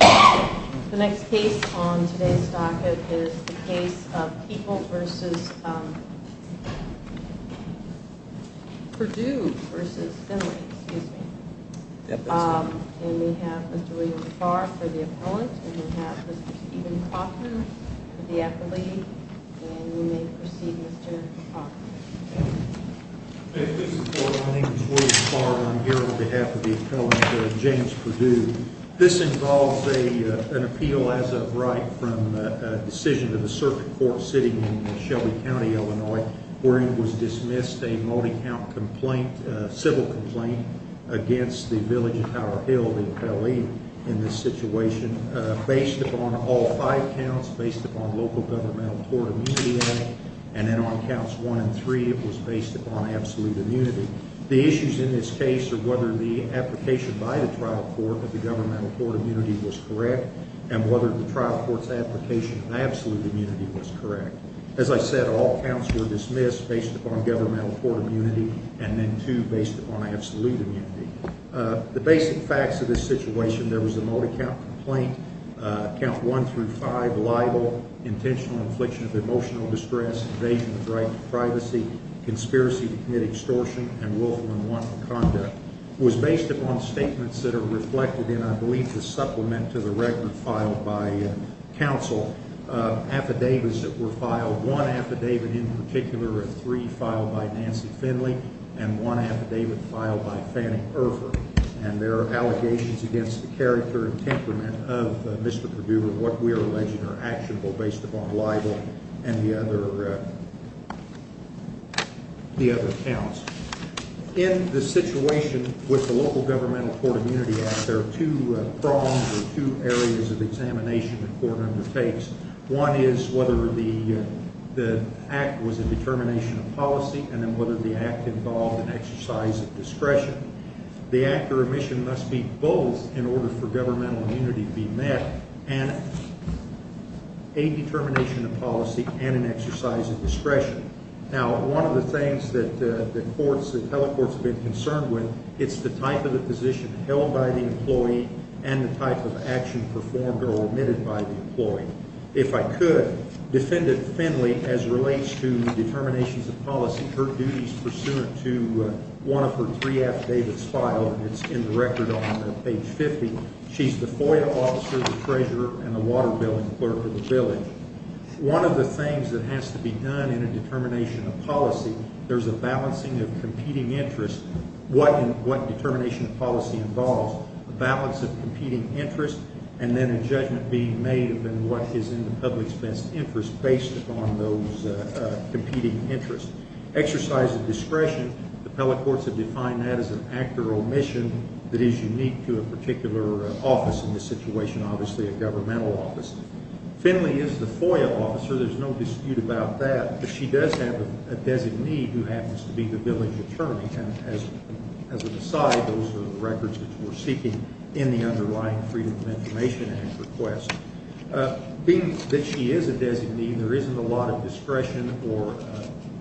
The next case on today's docket is the case of Peoples v. Finley And we have Mr. William Farr for the appellant, and we have Mr. Stephen Cochran for the appellee And we may proceed, Mr. Cochran My name is William Farr, and I'm here on behalf of the appellant, James Perdue This involves an appeal as of right from a decision to the circuit court sitting in Shelby County, Illinois Where it was dismissed a multi-count complaint, a civil complaint, against the village of Tower Hill, the appellee In this situation, based upon all five counts, based upon local governmental court immunity And then on counts one and three, it was based upon absolute immunity The issues in this case are whether the application by the trial court of the governmental court immunity was correct And whether the trial court's application of absolute immunity was correct As I said, all counts were dismissed based upon governmental court immunity, and then two based upon absolute immunity The basic facts of this situation, there was a multi-count complaint, count one through five, libel Intentional infliction of emotional distress, invasion of the right to privacy, conspiracy to commit extortion, and willful and unlawful conduct It was based upon statements that are reflected in, I believe, the supplement to the record filed by counsel Affidavits that were filed, one affidavit in particular, three filed by Nancy Finley And one affidavit filed by Fannie Erfur And there are allegations against the character and temperament of Mr. Perdue And what we are alleging are actionable based upon libel and the other counts In the situation with the local governmental court immunity act, there are two prongs or two areas of examination the court undertakes One is whether the act was a determination of policy, and then whether the act involved an exercise of discretion The act or omission must be both in order for governmental immunity to be met And a determination of policy and an exercise of discretion Now, one of the things that courts, that teleports have been concerned with, it's the type of the position held by the employee And the type of action performed or omitted by the employee If I could, defendant Finley, as relates to determinations of policy, her duties pursuant to one of her three affidavits filed And it's in the record on page 50 She's the FOIA officer, the treasurer, and the water billing clerk of the village One of the things that has to be done in a determination of policy, there's a balancing of competing interests What determination of policy involves a balance of competing interests And then a judgment being made of what is in the public's best interest based upon those competing interests Exercise of discretion, the teleports have defined that as an act or omission that is unique to a particular office in this situation Obviously a governmental office Finley is the FOIA officer, there's no dispute about that But she does have a designee who happens to be the village attorney And as an aside, those are the records that we're seeking in the underlying Freedom of Information Act request Being that she is a designee, there isn't a lot of discretion or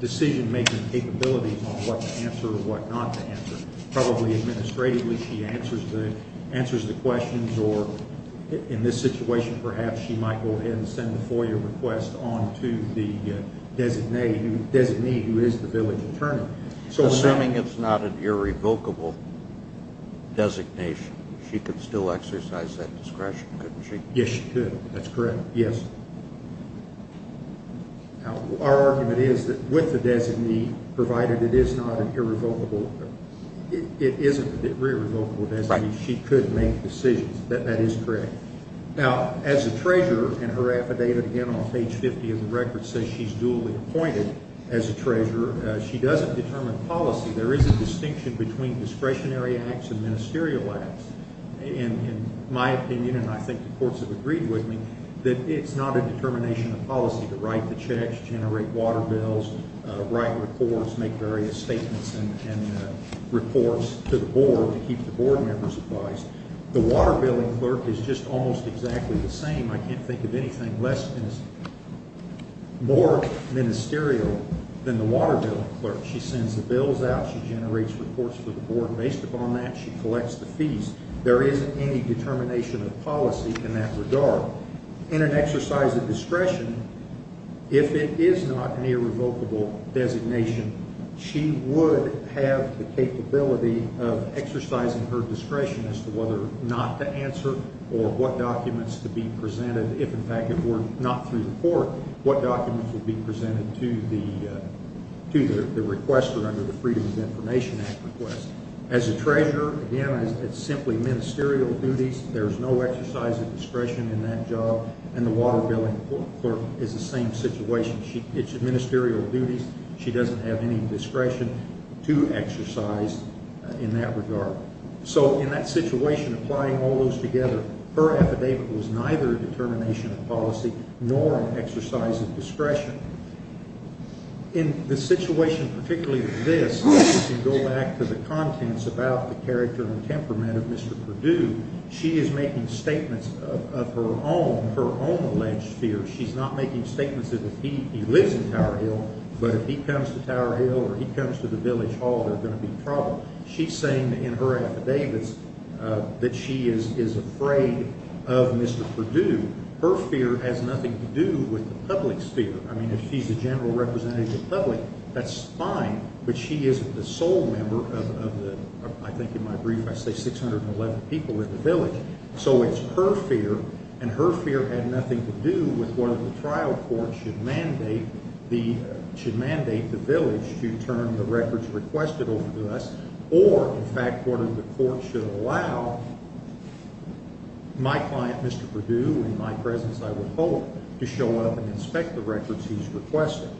decision-making capabilities on what to answer or what not to answer Probably administratively she answers the questions or in this situation perhaps she might go ahead and send the FOIA request on to the designee who is the village attorney Assuming it's not an irrevocable designation, she could still exercise that discretion, couldn't she? Yes, she could, that's correct, yes Our argument is that with the designee, provided it is not an irrevocable designation, she could make decisions, that is correct Now, as a treasurer, and her affidavit again on page 50 of the record says she's dually appointed as a treasurer She doesn't determine policy, there is a distinction between discretionary acts and ministerial acts In my opinion, and I think the courts have agreed with me, that it's not a determination of policy to write the checks, generate water bills, write reports, make various statements and reports to the board to keep the board members advised The water billing clerk is just almost exactly the same, I can't think of anything more ministerial than the water billing clerk She sends the bills out, she generates reports to the board, based upon that she collects the fees There isn't any determination of policy in that regard In an exercise of discretion, if it is not an irrevocable designation, she would have the capability of exercising her discretion as to whether or not to answer Or what documents to be presented, if in fact it were not through the court, what documents would be presented to the requester under the Freedom of Information Act request As a treasurer, again, it's simply ministerial duties, there is no exercise of discretion in that job And the water billing clerk is the same situation, it's ministerial duties, she doesn't have any discretion to exercise in that regard So in that situation, applying all those together, her affidavit was neither a determination of policy nor an exercise of discretion In the situation particularly of this, if you go back to the contents about the character and temperament of Mr. Perdue, she is making statements of her own alleged fear She's not making statements that he lives in Tower Hill, but if he comes to Tower Hill or he comes to the Village Hall, there's going to be trouble She's saying in her affidavits that she is afraid of Mr. Perdue, her fear has nothing to do with the public's fear I mean, if she's a general representative of the public, that's fine, but she isn't the sole member of the, I think in my brief, I say 611 people in the Village So it's her fear, and her fear had nothing to do with whether the trial court should mandate the Village to turn the records requested over to us Or, in fact, whether the court should allow my client, Mr. Perdue, in my presence I would hope, to show up and inspect the records he's requested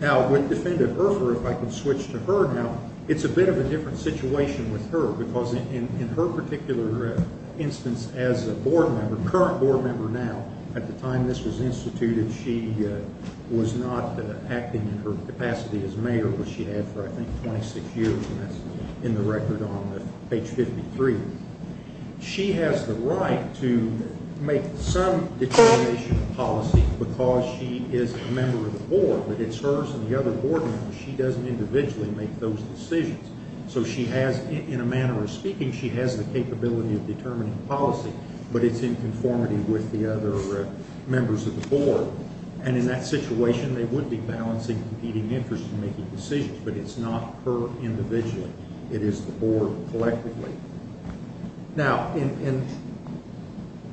Now, with Defendant Urpher, if I could switch to her now, it's a bit of a different situation with her, because in her particular instance as a board member, current board member now At the time this was instituted, she was not acting in her capacity as mayor, which she had for, I think, 26 years, and that's in the record on page 53 She has the right to make some determination of policy because she is a member of the board, but it's hers and the other board members, she doesn't individually make those decisions So she has, in a manner of speaking, she has the capability of determining policy, but it's in conformity with the other members of the board And in that situation, they would be balancing competing interests and making decisions, but it's not her individually, it is the board collectively Now, in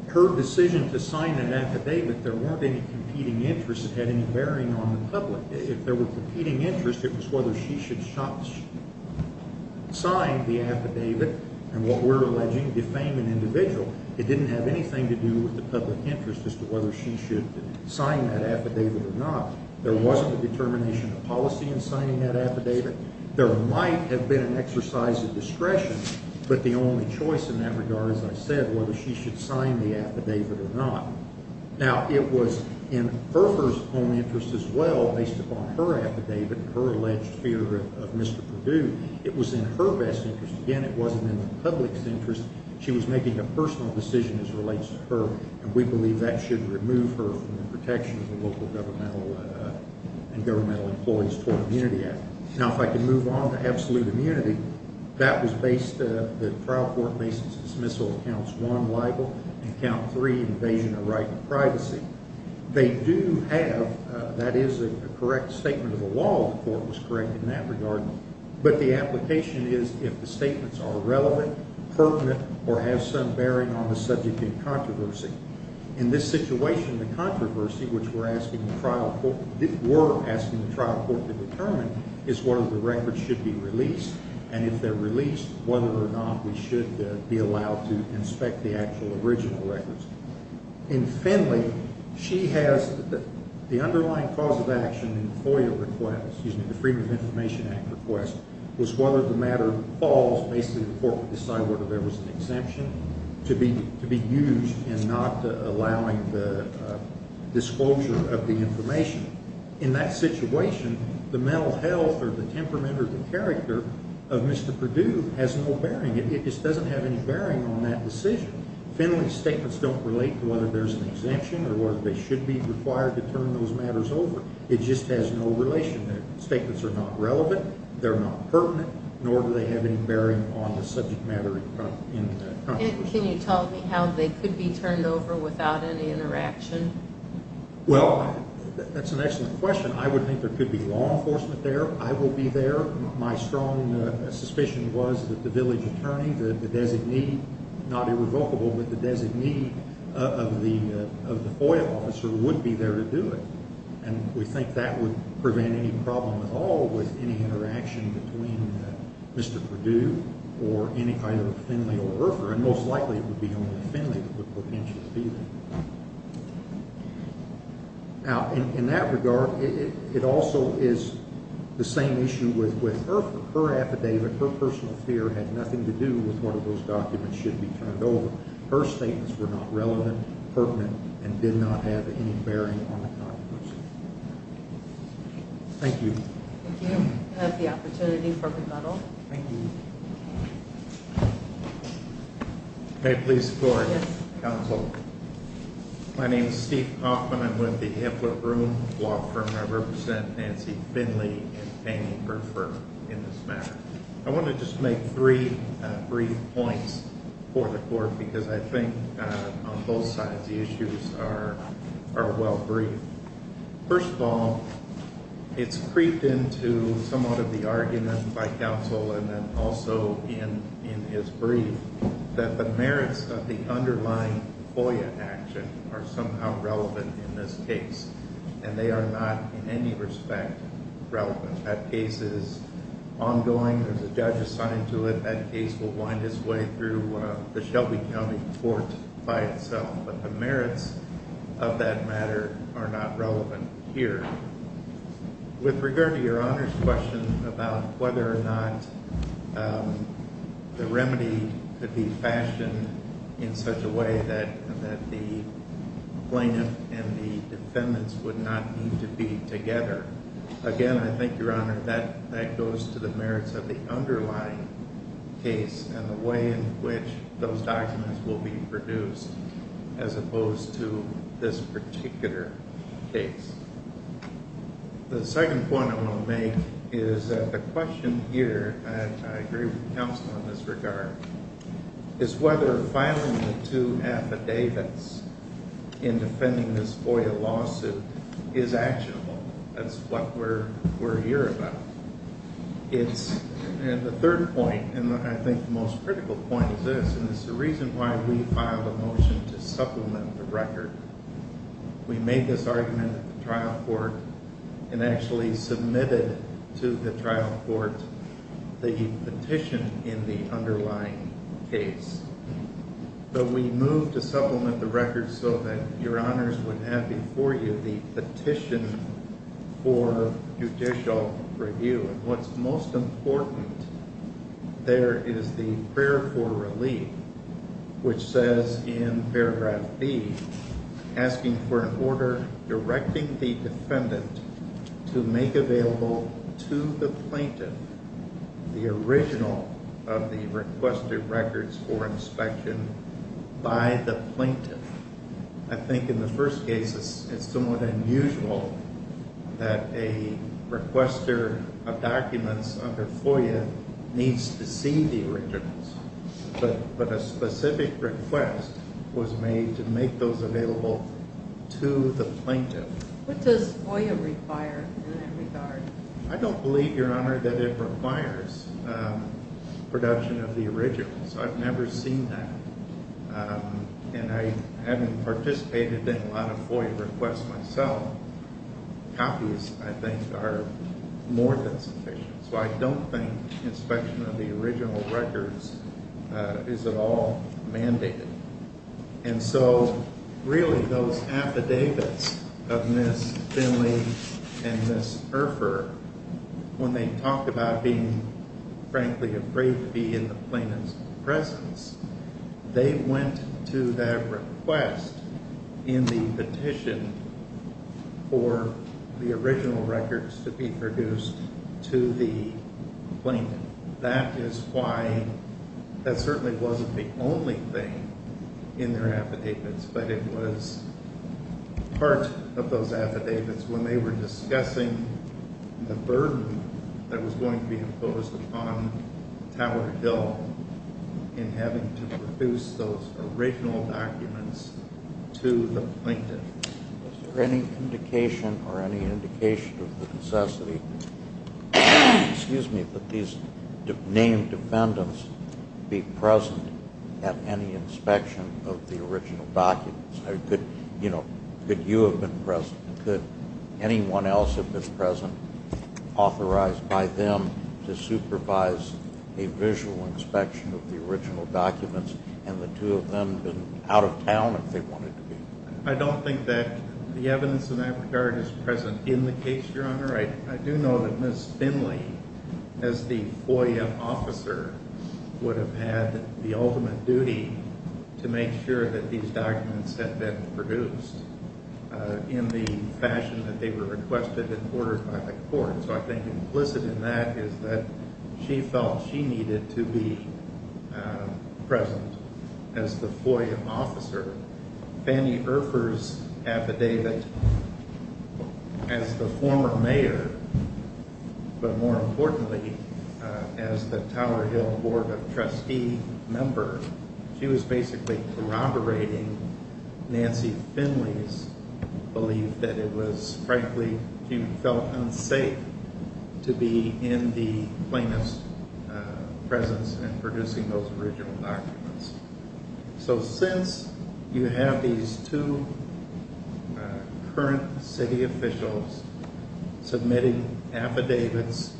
her decision to sign an affidavit, there weren't any competing interests that had any bearing on the public If there were competing interests, it was whether she should sign the affidavit, and what we're alleging, defame an individual It didn't have anything to do with the public interest as to whether she should sign that affidavit or not There wasn't a determination of policy in signing that affidavit There might have been an exercise of discretion, but the only choice in that regard, as I said, was whether she should sign the affidavit or not Now, it was in her own interest as well, based upon her affidavit and her alleged fear of Mr. Perdue It was in her best interest. Again, it wasn't in the public's interest. She was making a personal decision as relates to her And we believe that should remove her from the protection of the Local Governmental and Governmental Employees Toward Immunity Act Now, if I could move on to absolute immunity, that was based, the trial court based its dismissal of counts 1, libel, and count 3, invasion of right and privacy They do have, that is a correct statement of the law, the court was correct in that regard But the application is if the statements are relevant, pertinent, or have some bearing on the subject in controversy In this situation, the controversy, which we're asking the trial court to determine, is whether the records should be released And if they're released, whether or not we should be allowed to inspect the actual original records In Finley, she has the underlying cause of action in FOIA request, excuse me, the Freedom of Information Act request Was whether the matter falls, basically the court would decide whether there was an exemption to be used in not allowing the disclosure of the information In that situation, the mental health or the temperament or the character of Mr. Perdue has no bearing It just doesn't have any bearing on that decision Finley's statements don't relate to whether there's an exemption or whether they should be required to turn those matters over It just has no relation, the statements are not relevant, they're not pertinent, nor do they have any bearing on the subject matter in the controversy Can you tell me how they could be turned over without any interaction? Well, that's an excellent question, I would think there could be law enforcement there, I will be there My strong suspicion was that the village attorney, the designee, not irrevocable, but the designee of the FOIA officer would be there to do it And we think that would prevent any problem at all with any interaction between Mr. Perdue or any kind of Finley or Urpher And most likely it would be only Finley that would potentially be there Now, in that regard, it also is the same issue with Urpher, her affidavit, her personal fear had nothing to do with whether those documents should be turned over Her statements were not relevant, pertinent, and did not have any bearing on the controversy Thank you Thank you, that's the opportunity for rebuttal Thank you May it please the court Yes Thank you, counsel My name is Steve Kaufman, I'm with the Hippler Broom law firm, I represent Nancy Finley and Fannie Urpher in this matter I want to just make three brief points for the court because I think on both sides the issues are well briefed First of all, it's creeped into somewhat of the argument by counsel and then also in his brief that the merits of the underlying FOIA action are somehow relevant in this case And they are not in any respect relevant That case is ongoing, there's a judge assigned to it, that case will wind its way through the Shelby County court by itself But the merits of that matter are not relevant here With regard to your Honor's question about whether or not the remedy could be fashioned in such a way that the plaintiff and the defendants would not need to be together Again, I think your Honor, that goes to the merits of the underlying case and the way in which those documents will be produced as opposed to this particular case The second point I want to make is that the question here, and I agree with counsel in this regard, is whether filing the two affidavits in defending this FOIA lawsuit is actionable That's what we're here about The third point, and I think the most critical point is this, and it's the reason why we filed a motion to supplement the record We made this argument at the trial court and actually submitted to the trial court the petition in the underlying case But we moved to supplement the record so that your Honors would have before you the petition for judicial review And what's most important there is the prayer for relief, which says in paragraph B, asking for an order directing the defendant to make available to the plaintiff the original of the requested records for inspection by the plaintiff I think in the first case it's somewhat unusual that a requester of documents under FOIA needs to see the originals, but a specific request was made to make those available to the plaintiff What does FOIA require in that regard? I don't believe, Your Honor, that it requires production of the originals. I've never seen that And I haven't participated in a lot of FOIA requests myself Copies, I think, are more than sufficient So I don't think inspection of the original records is at all mandated And so really those affidavits of Ms. Finley and Ms. Erfur, when they talked about being frankly afraid to be in the plaintiff's presence They went to that request in the petition for the original records to be produced to the plaintiff That is why that certainly wasn't the only thing in their affidavits, but it was part of those affidavits when they were discussing the burden that was going to be imposed upon Tower Hill in having to produce those original documents to the plaintiff Is there any indication or any indication of the necessity that these named defendants be present at any inspection of the original documents? Could you have been present? Could anyone else have been present, authorized by them to supervise a visual inspection of the original documents, and the two of them have been out of town if they wanted to be? I don't think that the evidence in that regard is present in the case, Your Honor I do know that Ms. Finley, as the FOIA officer, would have had the ultimate duty to make sure that these documents had been produced in the fashion that they were requested and ordered by the court So I think implicit in that is that she felt she needed to be present as the FOIA officer Fannie Erfurth's affidavit, as the former mayor, but more importantly as the Tower Hill Board of Trustees member, she was basically corroborating Nancy Finley's belief that it was, frankly, she felt unsafe to be in the plaintiff's presence in producing those original documents So since you have these two current city officials submitting affidavits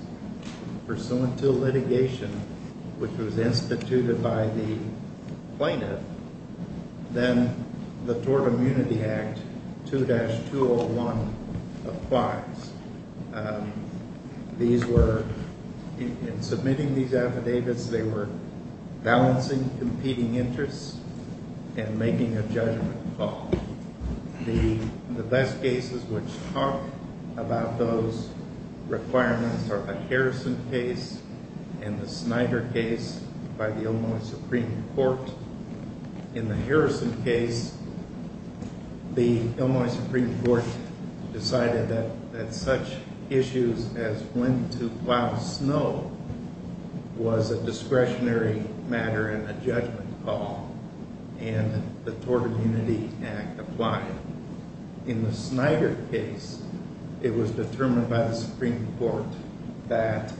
pursuant to litigation, which was instituted by the plaintiff, then the Tort Immunity Act 2-201 applies In submitting these affidavits, they were balancing competing interests and making a judgment call The best cases which talk about those requirements are the Harrison case and the Snyder case by the Illinois Supreme Court In the Harrison case, the Illinois Supreme Court decided that such issues as when to plow snow was a discretionary matter and a judgment call And the Tort Immunity Act applied In the Snyder case, it was determined by the Supreme Court that,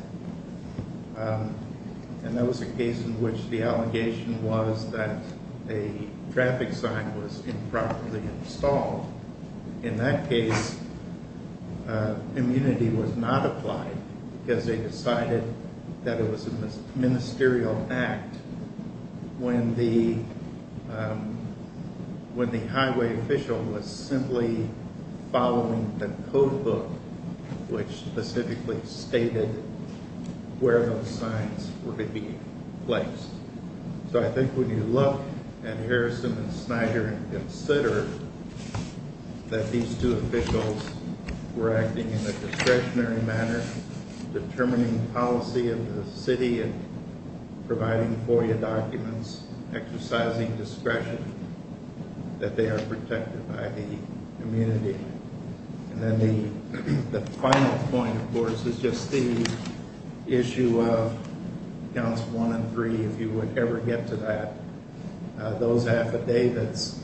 and that was a case in which the allegation was that a traffic sign was improperly installed In that case, immunity was not applied because they decided that it was a ministerial act when the highway official was simply following the codebook which specifically stated where those signs were to be placed So I think when you look at Harrison and Snyder and consider that these two officials were acting in a discretionary manner, determining policy of the city and providing FOIA documents, exercising discretion, that they are protected by the immunity And then the final point, of course, is just the issue of counts 1 and 3, if you would ever get to that Those affidavits,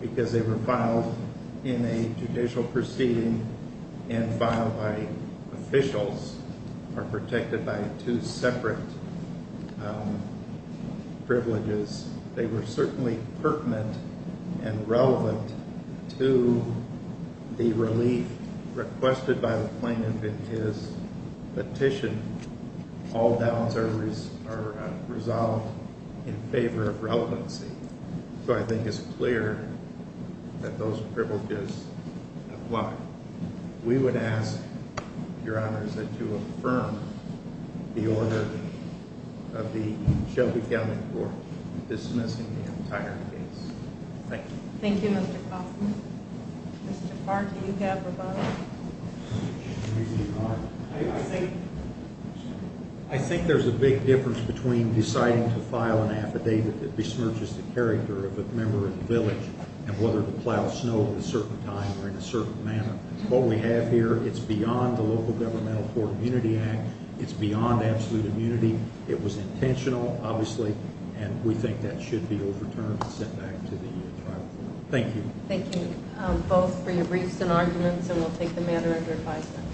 because they were filed in a judicial proceeding and filed by officials, are protected by two separate privileges They were certainly pertinent and relevant to the relief requested by the plaintiff in his petition. All doubts are resolved in favor of relevancy So I think it's clear that those privileges apply We would ask, Your Honors, that you affirm the order of the Shelby County Court dismissing the entire case. Thank you Thank you, Mr. Kaufman. Mr. Clark, do you have a vote? I think there's a big difference between deciding to file an affidavit that besmirches the character of a member of the village and whether to plow snow at a certain time or in a certain manner What we have here, it's beyond the Local Governmental Court Immunity Act. It's beyond absolute immunity. It was intentional, obviously, and we think that should be overturned and sent back to the tribal court Thank you. Thank you both for your briefs and arguments, and we'll take the matter under advisement